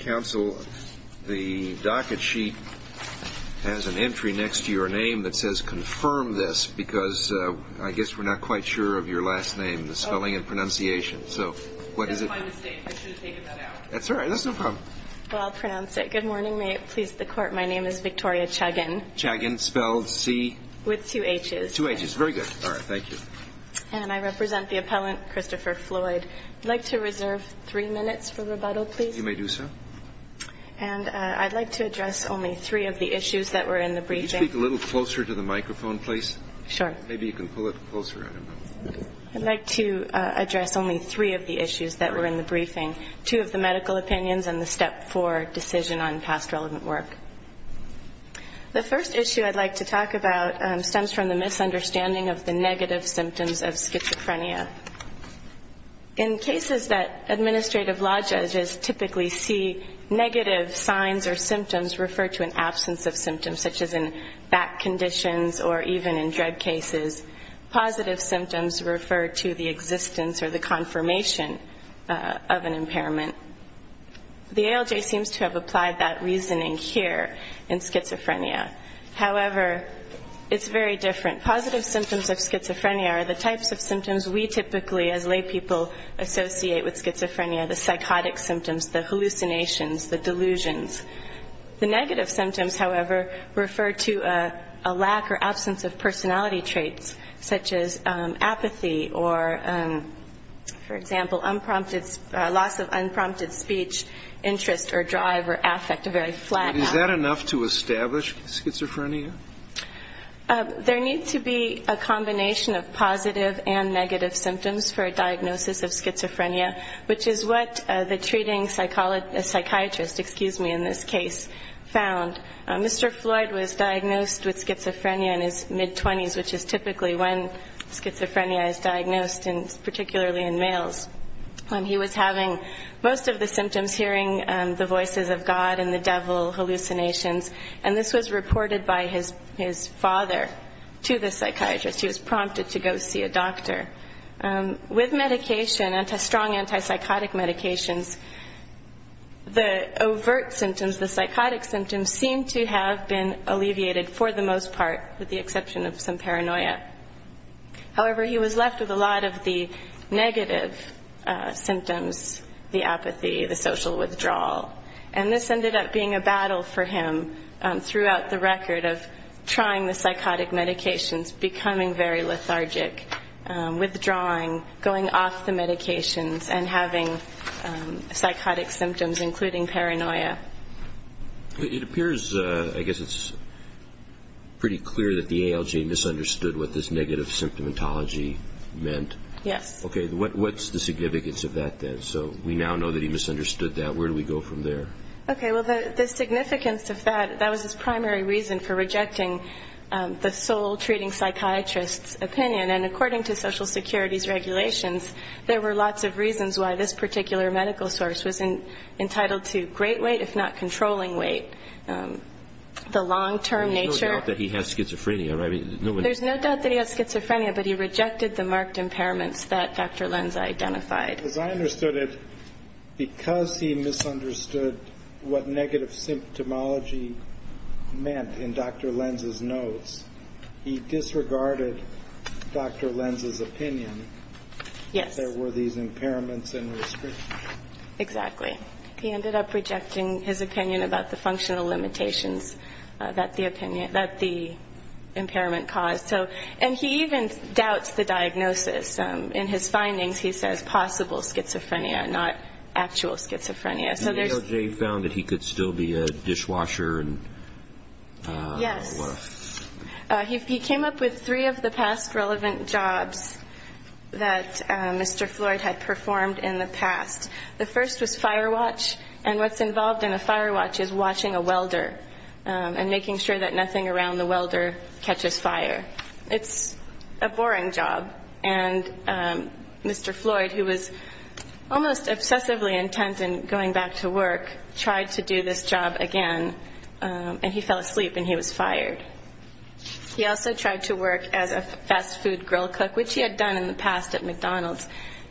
Counsel, the docket sheet has an entry next to your name that says confirm this because I guess we're not quite sure of your last name, the spelling and pronunciation. So what is it? That's my mistake. I should have taken that out. That's all right. That's no problem. Well, I'll pronounce it. Good morning. May it please the Court. My name is Victoria Chagin. Chagin. Spelled C? With two H's. Two H's. Very good. All right. Thank you. And I represent the appellant Christopher Floyd. I'd like to reserve three minutes for rebuttal, please. You may do so. And I'd like to address only three of the issues that were in the briefing. Could you speak a little closer to the microphone, please? Sure. Maybe you can pull it closer. I'd like to address only three of the issues that were in the briefing, two of the medical opinions and the step four decision on past relevant work. The first issue I'd like to talk about stems from the misunderstanding of the negative symptoms of schizophrenia. In cases that administrative law judges typically see, negative signs or symptoms refer to an absence of symptoms, such as in back conditions or even in drug cases. Positive symptoms refer to the existence or the confirmation of an impairment. The ALJ seems to have applied that reasoning here in schizophrenia. However, it's very different. Positive symptoms of schizophrenia are the types of symptoms we typically as lay people associate with schizophrenia, the psychotic symptoms, the hallucinations, the delusions. The negative symptoms, however, refer to a lack or absence of personality traits, such as apathy or, for example, loss of unprompted speech, interest or drive or affect, a very flat. Is that enough to establish schizophrenia? There needs to be a combination of positive and negative symptoms for a diagnosis of schizophrenia, which is what the treating psychiatrist, excuse me, in this case found. Mr. Floyd was diagnosed with schizophrenia in his mid-20s, which is typically when schizophrenia is diagnosed, and particularly in males. And he was having most of the symptoms, hearing the voices of God and the devil, hallucinations, and this was reported by his father to the psychiatrist. He was prompted to go see a doctor. With medication, strong antipsychotic medications, the overt symptoms, the psychotic symptoms, seemed to have been alleviated for the most part, with the exception of some paranoia. However, he was left with a lot of the negative symptoms, the apathy, the social withdrawal. And this ended up being a battle for him throughout the record of trying the psychotic medications, becoming very lethargic, withdrawing, going off the medications, and having psychotic symptoms, including paranoia. It appears, I guess it's pretty clear that the ALJ misunderstood what this negative symptomatology meant. Yes. Okay, what's the significance of that then? So we now know that he misunderstood that. Where do we go from there? Okay, well, the significance of that, that was his primary reason for rejecting the sole treating psychiatrist's opinion. And according to Social Security's regulations, there were lots of reasons why this particular medical source was entitled to great weight, if not controlling weight. The long-term nature. There's no doubt that he has schizophrenia, right? There's no doubt that he has schizophrenia, but he rejected the marked impairments that Dr. Lenz identified. As I understood it, because he misunderstood what negative symptomatology meant in Dr. Lenz's notes, he disregarded Dr. Lenz's opinion that there were these impairments and restrictions. Exactly. He ended up rejecting his opinion about the functional limitations that the impairment caused. And he even doubts the diagnosis. In his findings, he says possible schizophrenia, not actual schizophrenia. The DOJ found that he could still be a dishwasher. Yes. He came up with three of the past relevant jobs that Mr. Floyd had performed in the past. The first was fire watch, and what's involved in a fire watch is watching a welder and making sure that nothing around the welder catches fire. It's a boring job. And Mr. Floyd, who was almost obsessively intent on going back to work, tried to do this job again, and he fell asleep and he was fired. He also tried to work as a fast food grill cook, which he had done in the past at McDonald's.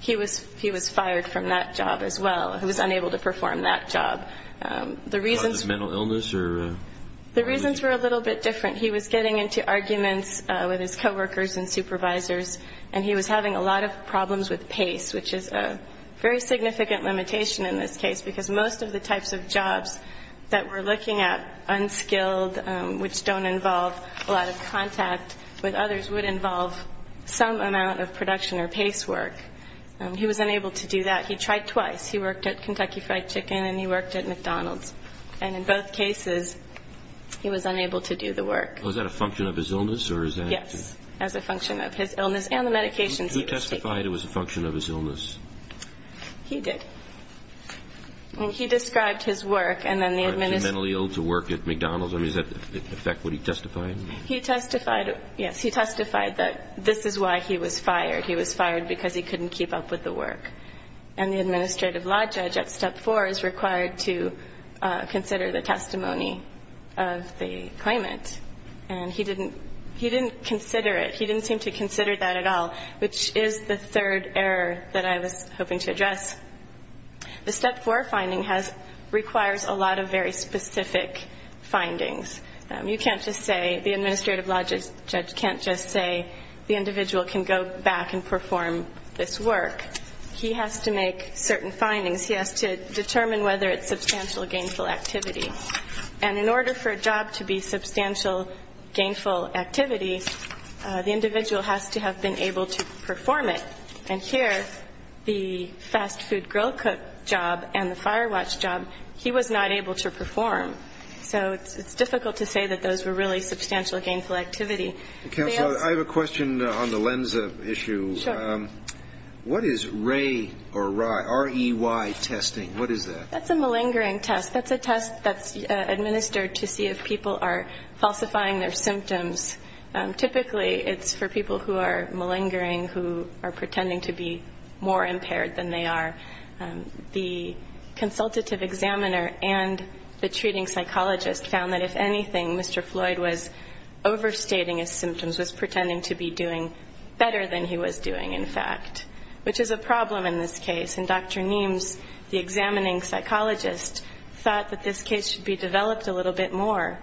He was fired from that job as well. He was unable to perform that job. Was it mental illness? The reasons were a little bit different. He was getting into arguments with his coworkers and supervisors, and he was having a lot of problems with pace, which is a very significant limitation in this case, because most of the types of jobs that we're looking at, unskilled, which don't involve a lot of contact with others, would involve some amount of production or pace work. He was unable to do that. He tried twice. He worked at Kentucky Fried Chicken and he worked at McDonald's. And in both cases, he was unable to do the work. Was that a function of his illness? Yes, as a function of his illness and the medications he was taking. Who testified it was a function of his illness? He did. He described his work and then the administration. Was he mentally ill to work at McDonald's? I mean, does that affect what he testified? Yes, he testified that this is why he was fired. He was fired because he couldn't keep up with the work. And the administrative law judge at Step 4 is required to consider the testimony of the claimant. And he didn't consider it. He didn't seem to consider that at all, which is the third error that I was hoping to address. The Step 4 finding requires a lot of very specific findings. You can't just say the administrative law judge can't just say the individual can go back and perform this work. He has to make certain findings. He has to determine whether it's substantial gainful activity. And in order for a job to be substantial gainful activity, the individual has to have been able to perform it. And here, the fast food grill cook job and the fire watch job, he was not able to perform. So it's difficult to say that those were really substantial gainful activity. Counsel, I have a question on the LENSA issue. Sure. What is REY testing? What is that? That's a malingering test. That's a test that's administered to see if people are falsifying their symptoms. Typically, it's for people who are malingering, who are pretending to be more impaired than they are. The consultative examiner and the treating psychologist found that, if anything, Mr. Floyd was overstating his symptoms, was pretending to be doing better than he was doing, in fact, which is a problem in this case. And Dr. Niemes, the examining psychologist, thought that this case should be developed a little bit more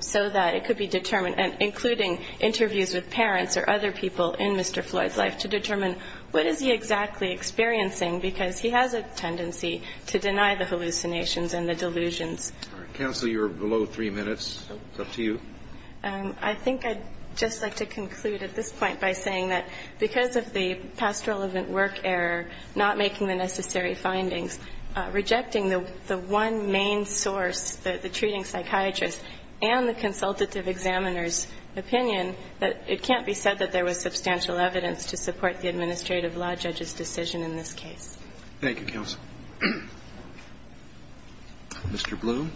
so that it could be determined, including interviews with parents or other people in Mr. Floyd's life, to determine what is he exactly experiencing because he has a tendency to deny the hallucinations and the delusions. Counsel, you're below three minutes. It's up to you. I think I'd just like to conclude at this point by saying that because of the past relevant work error, not making the necessary findings, rejecting the one main source, the treating psychiatrist, and the consultative examiner's opinion, that it can't be said that there was substantial evidence to support the administrative law judge's decision in this case. Thank you, counsel. Mr. Bloom.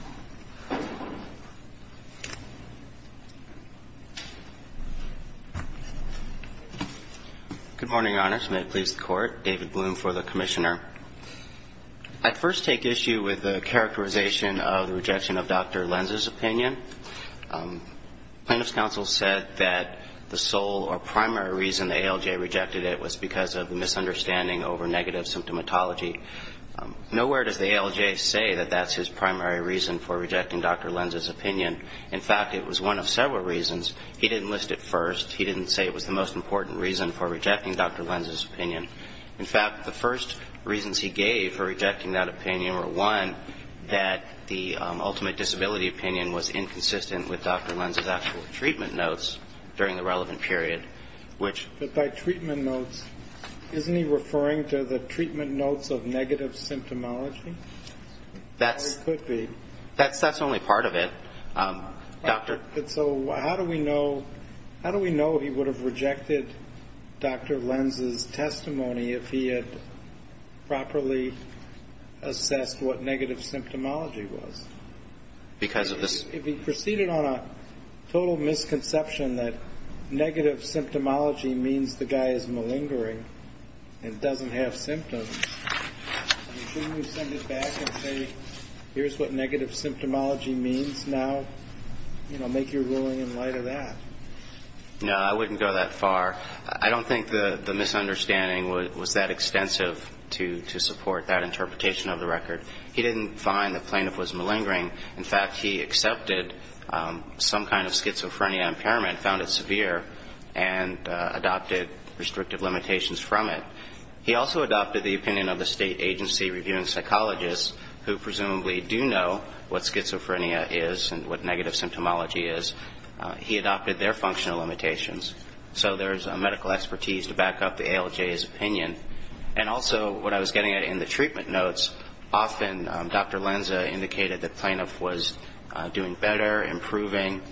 Good morning, Your Honors. May it please the Court. David Bloom for the Commissioner. I'd first take issue with the characterization of the rejection of Dr. Lenz's opinion. Plaintiff's counsel said that the sole or primary reason the ALJ rejected it was because of the misunderstanding over negative symptomatology. Nowhere does the ALJ say that that's his primary reason for rejecting Dr. Lenz's opinion. In fact, it was one of several reasons. He didn't list it first. He didn't say it was the most important reason for rejecting Dr. Lenz's opinion. In fact, the first reasons he gave for rejecting that opinion were, one, that the ultimate disability opinion was inconsistent with Dr. Lenz's actual treatment notes during the relevant period, which by treatment notes, isn't he referring to the treatment notes of negative symptomatology? It could be. That's only part of it. So how do we know he would have rejected Dr. Lenz's testimony if he had properly assessed what negative symptomatology was? Because of this. If he proceeded on a total misconception that negative symptomatology means the guy is malingering and doesn't have symptoms, shouldn't we send it back and say here's what negative symptomatology means now? You know, make your ruling in light of that. No, I wouldn't go that far. I don't think the misunderstanding was that extensive to support that interpretation of the record. He didn't find the plaintiff was malingering. In fact, he accepted some kind of schizophrenia impairment, found it severe, and adopted restrictive limitations from it. He also adopted the opinion of the state agency reviewing psychologists who presumably do know what schizophrenia is and what negative symptomatology is. He adopted their functional limitations. So there's a medical expertise to back up the ALJ's opinion. And also what I was getting at in the treatment notes, often Dr. Lenz indicated the plaintiff was doing better, improving,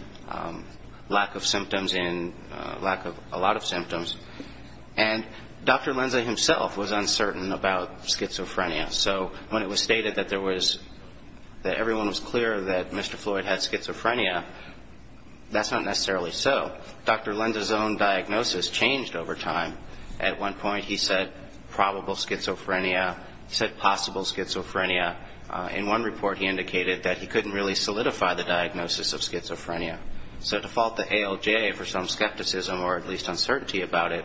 lack of symptoms and lack of a lot of symptoms. And Dr. Lenz himself was uncertain about schizophrenia. So when it was stated that there was, that everyone was clear that Mr. Floyd had schizophrenia, that's not necessarily so. Dr. Lenz's own diagnosis changed over time. At one point he said probable schizophrenia. He said possible schizophrenia. In one report he indicated that he couldn't really solidify the diagnosis of schizophrenia. So to fault the ALJ for some skepticism or at least uncertainty about it,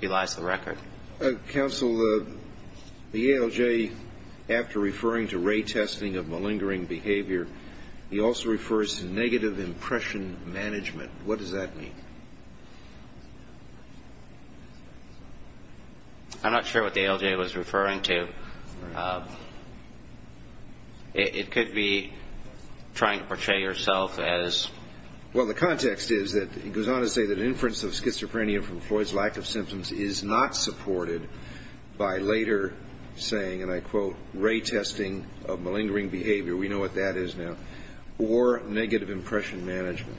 he lies to the record. Counsel, the ALJ, after referring to ray testing of malingering behavior, he also refers to negative impression management. What does that mean? I'm not sure what the ALJ was referring to. It could be trying to portray yourself as. Well, the context is that it goes on to say that inference of schizophrenia from Floyd's lack of symptoms is not supported by later saying, and I quote, ray testing of malingering behavior. We know what that is now. Or negative impression management.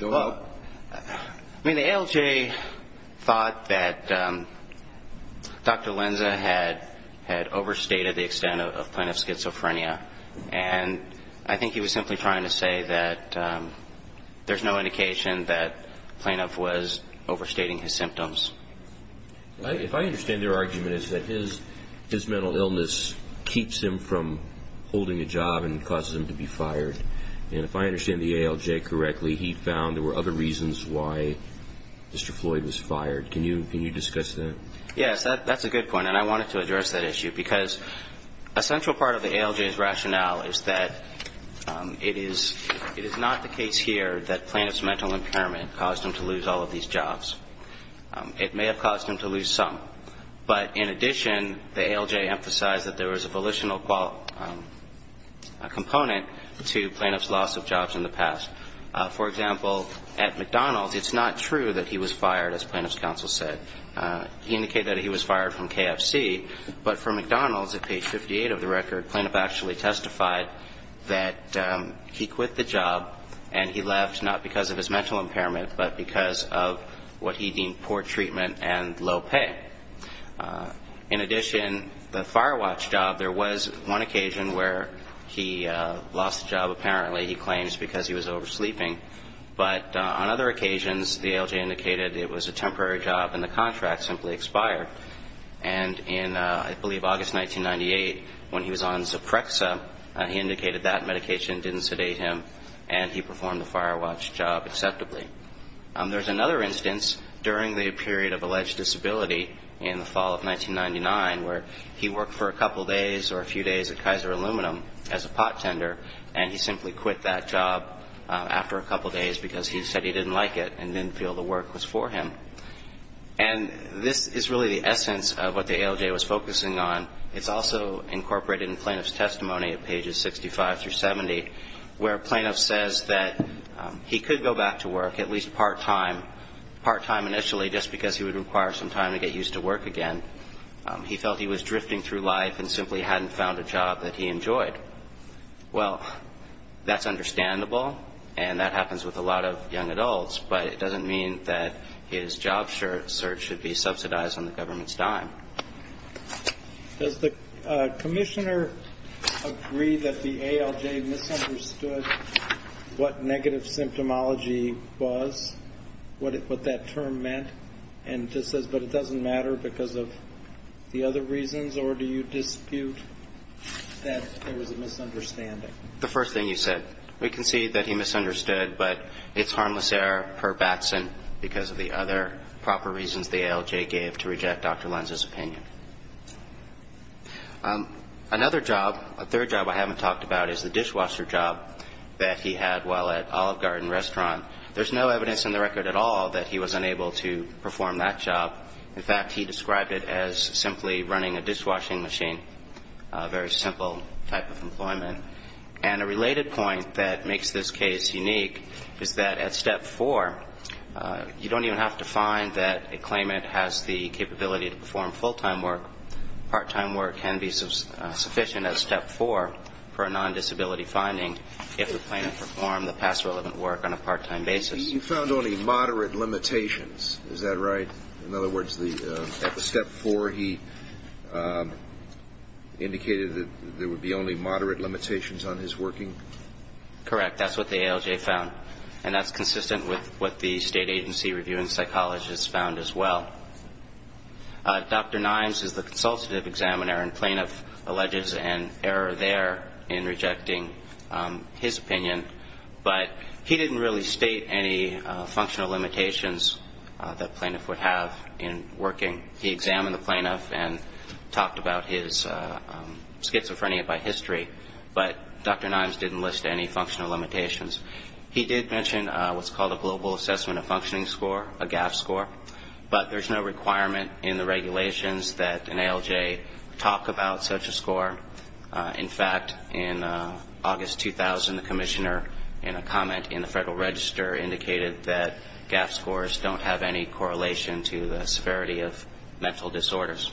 Well, I mean, the ALJ thought that Dr. Lenz had overstated the extent of plaintiff's schizophrenia, and I think he was simply trying to say that there's no indication that the plaintiff was overstating his symptoms. If I understand their argument, it's that his mental illness keeps him from holding a job and causes him to be fired. And if I understand the ALJ correctly, he found there were other reasons why Mr. Floyd was fired. Can you discuss that? Yes, that's a good point. And I wanted to address that issue because a central part of the ALJ's rationale is that it is not the case here that plaintiff's mental impairment caused him to lose all of these jobs. It may have caused him to lose some. But in addition, the ALJ emphasized that there was a volitional component to plaintiff's loss of jobs in the past. For example, at McDonald's, it's not true that he was fired, as plaintiff's counsel said. He indicated that he was fired from KFC. But for McDonald's, at page 58 of the record, plaintiff actually testified that he quit the job and he left not because of his mental impairment but because of what he deemed poor treatment and low pay. In addition, the Firewatch job, there was one occasion where he lost the job apparently, he claims, because he was oversleeping. But on other occasions, the ALJ indicated it was a temporary job and the contract simply expired. And in, I believe, August 1998, when he was on Ziprexa, he indicated that medication didn't sedate him. And he performed the Firewatch job acceptably. There's another instance during the period of alleged disability in the fall of 1999 where he worked for a couple days or a few days at Kaiser Aluminum as a pot tender, and he simply quit that job after a couple days because he said he didn't like it and didn't feel the work was for him. And this is really the essence of what the ALJ was focusing on. It's also incorporated in plaintiff's testimony at pages 65 through 70 where a plaintiff says that he could go back to work, at least part-time, part-time initially just because he would require some time to get used to work again. He felt he was drifting through life and simply hadn't found a job that he enjoyed. Well, that's understandable, and that happens with a lot of young adults, but it doesn't mean that his job search should be subsidized on the government's dime. Does the commissioner agree that the ALJ misunderstood what negative symptomology was, what that term meant, and just says, but it doesn't matter because of the other reasons, or do you dispute that there was a misunderstanding? The first thing you said. We concede that he misunderstood, but it's harmless error per Batson because of the other proper reasons the ALJ gave to reject Dr. Lenz's opinion. Another job, a third job I haven't talked about, is the dishwasher job that he had while at Olive Garden Restaurant. There's no evidence in the record at all that he was unable to perform that job. In fact, he described it as simply running a dishwashing machine, a very simple type of employment. And a related point that makes this case unique is that at Step 4, you don't even have to find that a claimant has the capability to perform full-time work. Part-time work can be sufficient at Step 4 for a non-disability finding if the claimant performed the past relevant work on a part-time basis. He found only moderate limitations, is that right? In other words, at the Step 4, he indicated that there would be only moderate limitations on his working? Correct. That's what the ALJ found, and that's consistent with what the state agency review and psychologist found as well. Dr. Nimes is the consultative examiner and plaintiff alleges an error there in rejecting his opinion, but he didn't really state any functional limitations that a plaintiff would have in working. He examined the plaintiff and talked about his schizophrenia by history, but Dr. Nimes didn't list any functional limitations. He did mention what's called a global assessment of functioning score, a GAF score, but there's no requirement in the regulations that an ALJ talk about such a score. In fact, in August 2000, the commissioner, in a comment in the Federal Register, indicated that GAF scores don't have any correlation to the severity of mental disorders.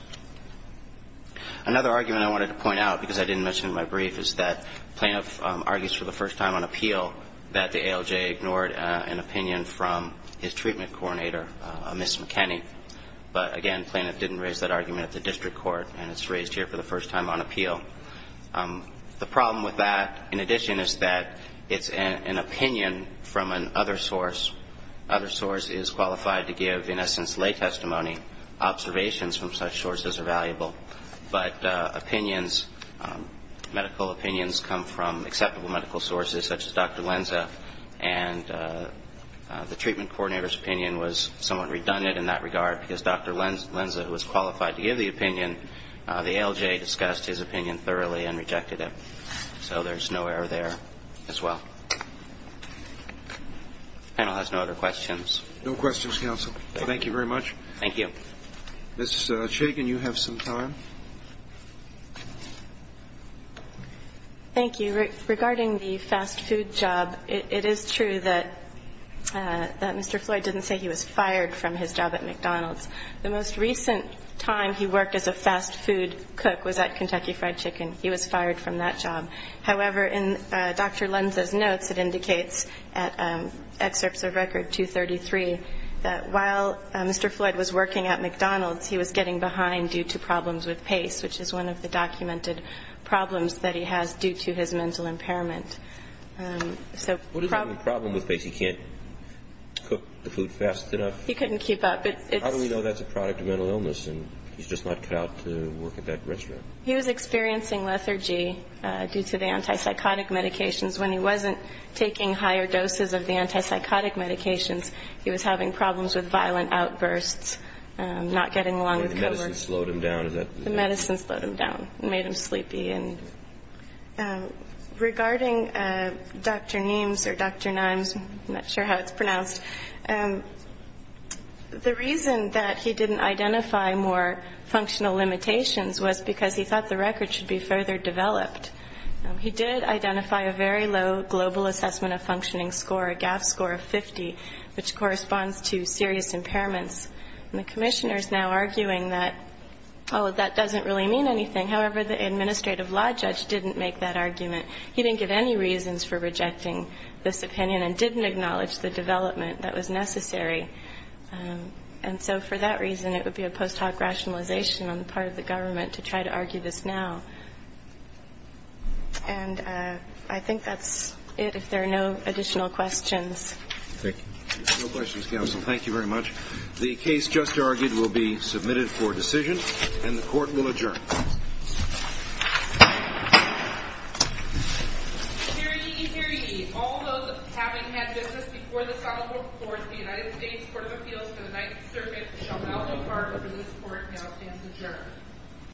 Another argument I wanted to point out, because I didn't mention it in my brief, is that the plaintiff argues for the first time on appeal that the ALJ ignored an opinion from his treatment coordinator, Ms. McKinney, but again, the plaintiff didn't raise that argument at the district court, and it's raised here for the first time on appeal. The problem with that, in addition, is that it's an opinion from an other source. Other source is qualified to give, in essence, lay testimony. Observations from such sources are valuable. But opinions, medical opinions, come from acceptable medical sources, such as Dr. Lenza, and the treatment coordinator's opinion was somewhat redundant in that regard, because Dr. Lenza, who was qualified to give the opinion, the ALJ discussed his opinion thoroughly and rejected it. So there's no error there as well. The panel has no other questions. No questions, counsel. Thank you very much. Thank you. Ms. Shagen, you have some time. Thank you. Regarding the fast food job, it is true that Mr. Floyd didn't say he was fired from his job at McDonald's. The most recent time he worked as a fast food cook was at Kentucky Fried Chicken. He was fired from that job. However, in Dr. Lenza's notes, it indicates, at Excerpts of Record 233, that while Mr. Floyd was working at McDonald's, he was getting behind due to problems with pace, which is one of the documented problems that he has due to his mental impairment. What is the problem with pace? He can't cook the food fast enough? He couldn't keep up. How do we know that's a product of mental illness and he's just not cut out to work at that restaurant? He was experiencing lethargy due to the antipsychotic medications. When he wasn't taking higher doses of the antipsychotic medications, he was having problems with violent outbursts, not getting along with co-workers. The medicine slowed him down? The medicine slowed him down and made him sleepy. And regarding Dr. Niemes or Dr. Niemes, I'm not sure how it's pronounced, the reason that he didn't identify more functional limitations was because he thought the record should be further developed. He did identify a very low global assessment of functioning score, a GAF score of 50, which corresponds to serious impairments. And the commissioner is now arguing that, oh, that doesn't really mean anything. However, the administrative law judge didn't make that argument. He didn't give any reasons for rejecting this opinion and didn't acknowledge the development that was necessary. And so for that reason, it would be a post hoc rationalization on the part of the government to try to argue this now. And I think that's it, if there are no additional questions. Thank you. No questions, counsel. Thank you very much. The case just argued will be submitted for decision, and the court will adjourn. Hear ye, hear ye. All those having had business before this honorable court, the United States Court of Appeals for the Ninth Circuit shall now depart, and this court now stands adjourned.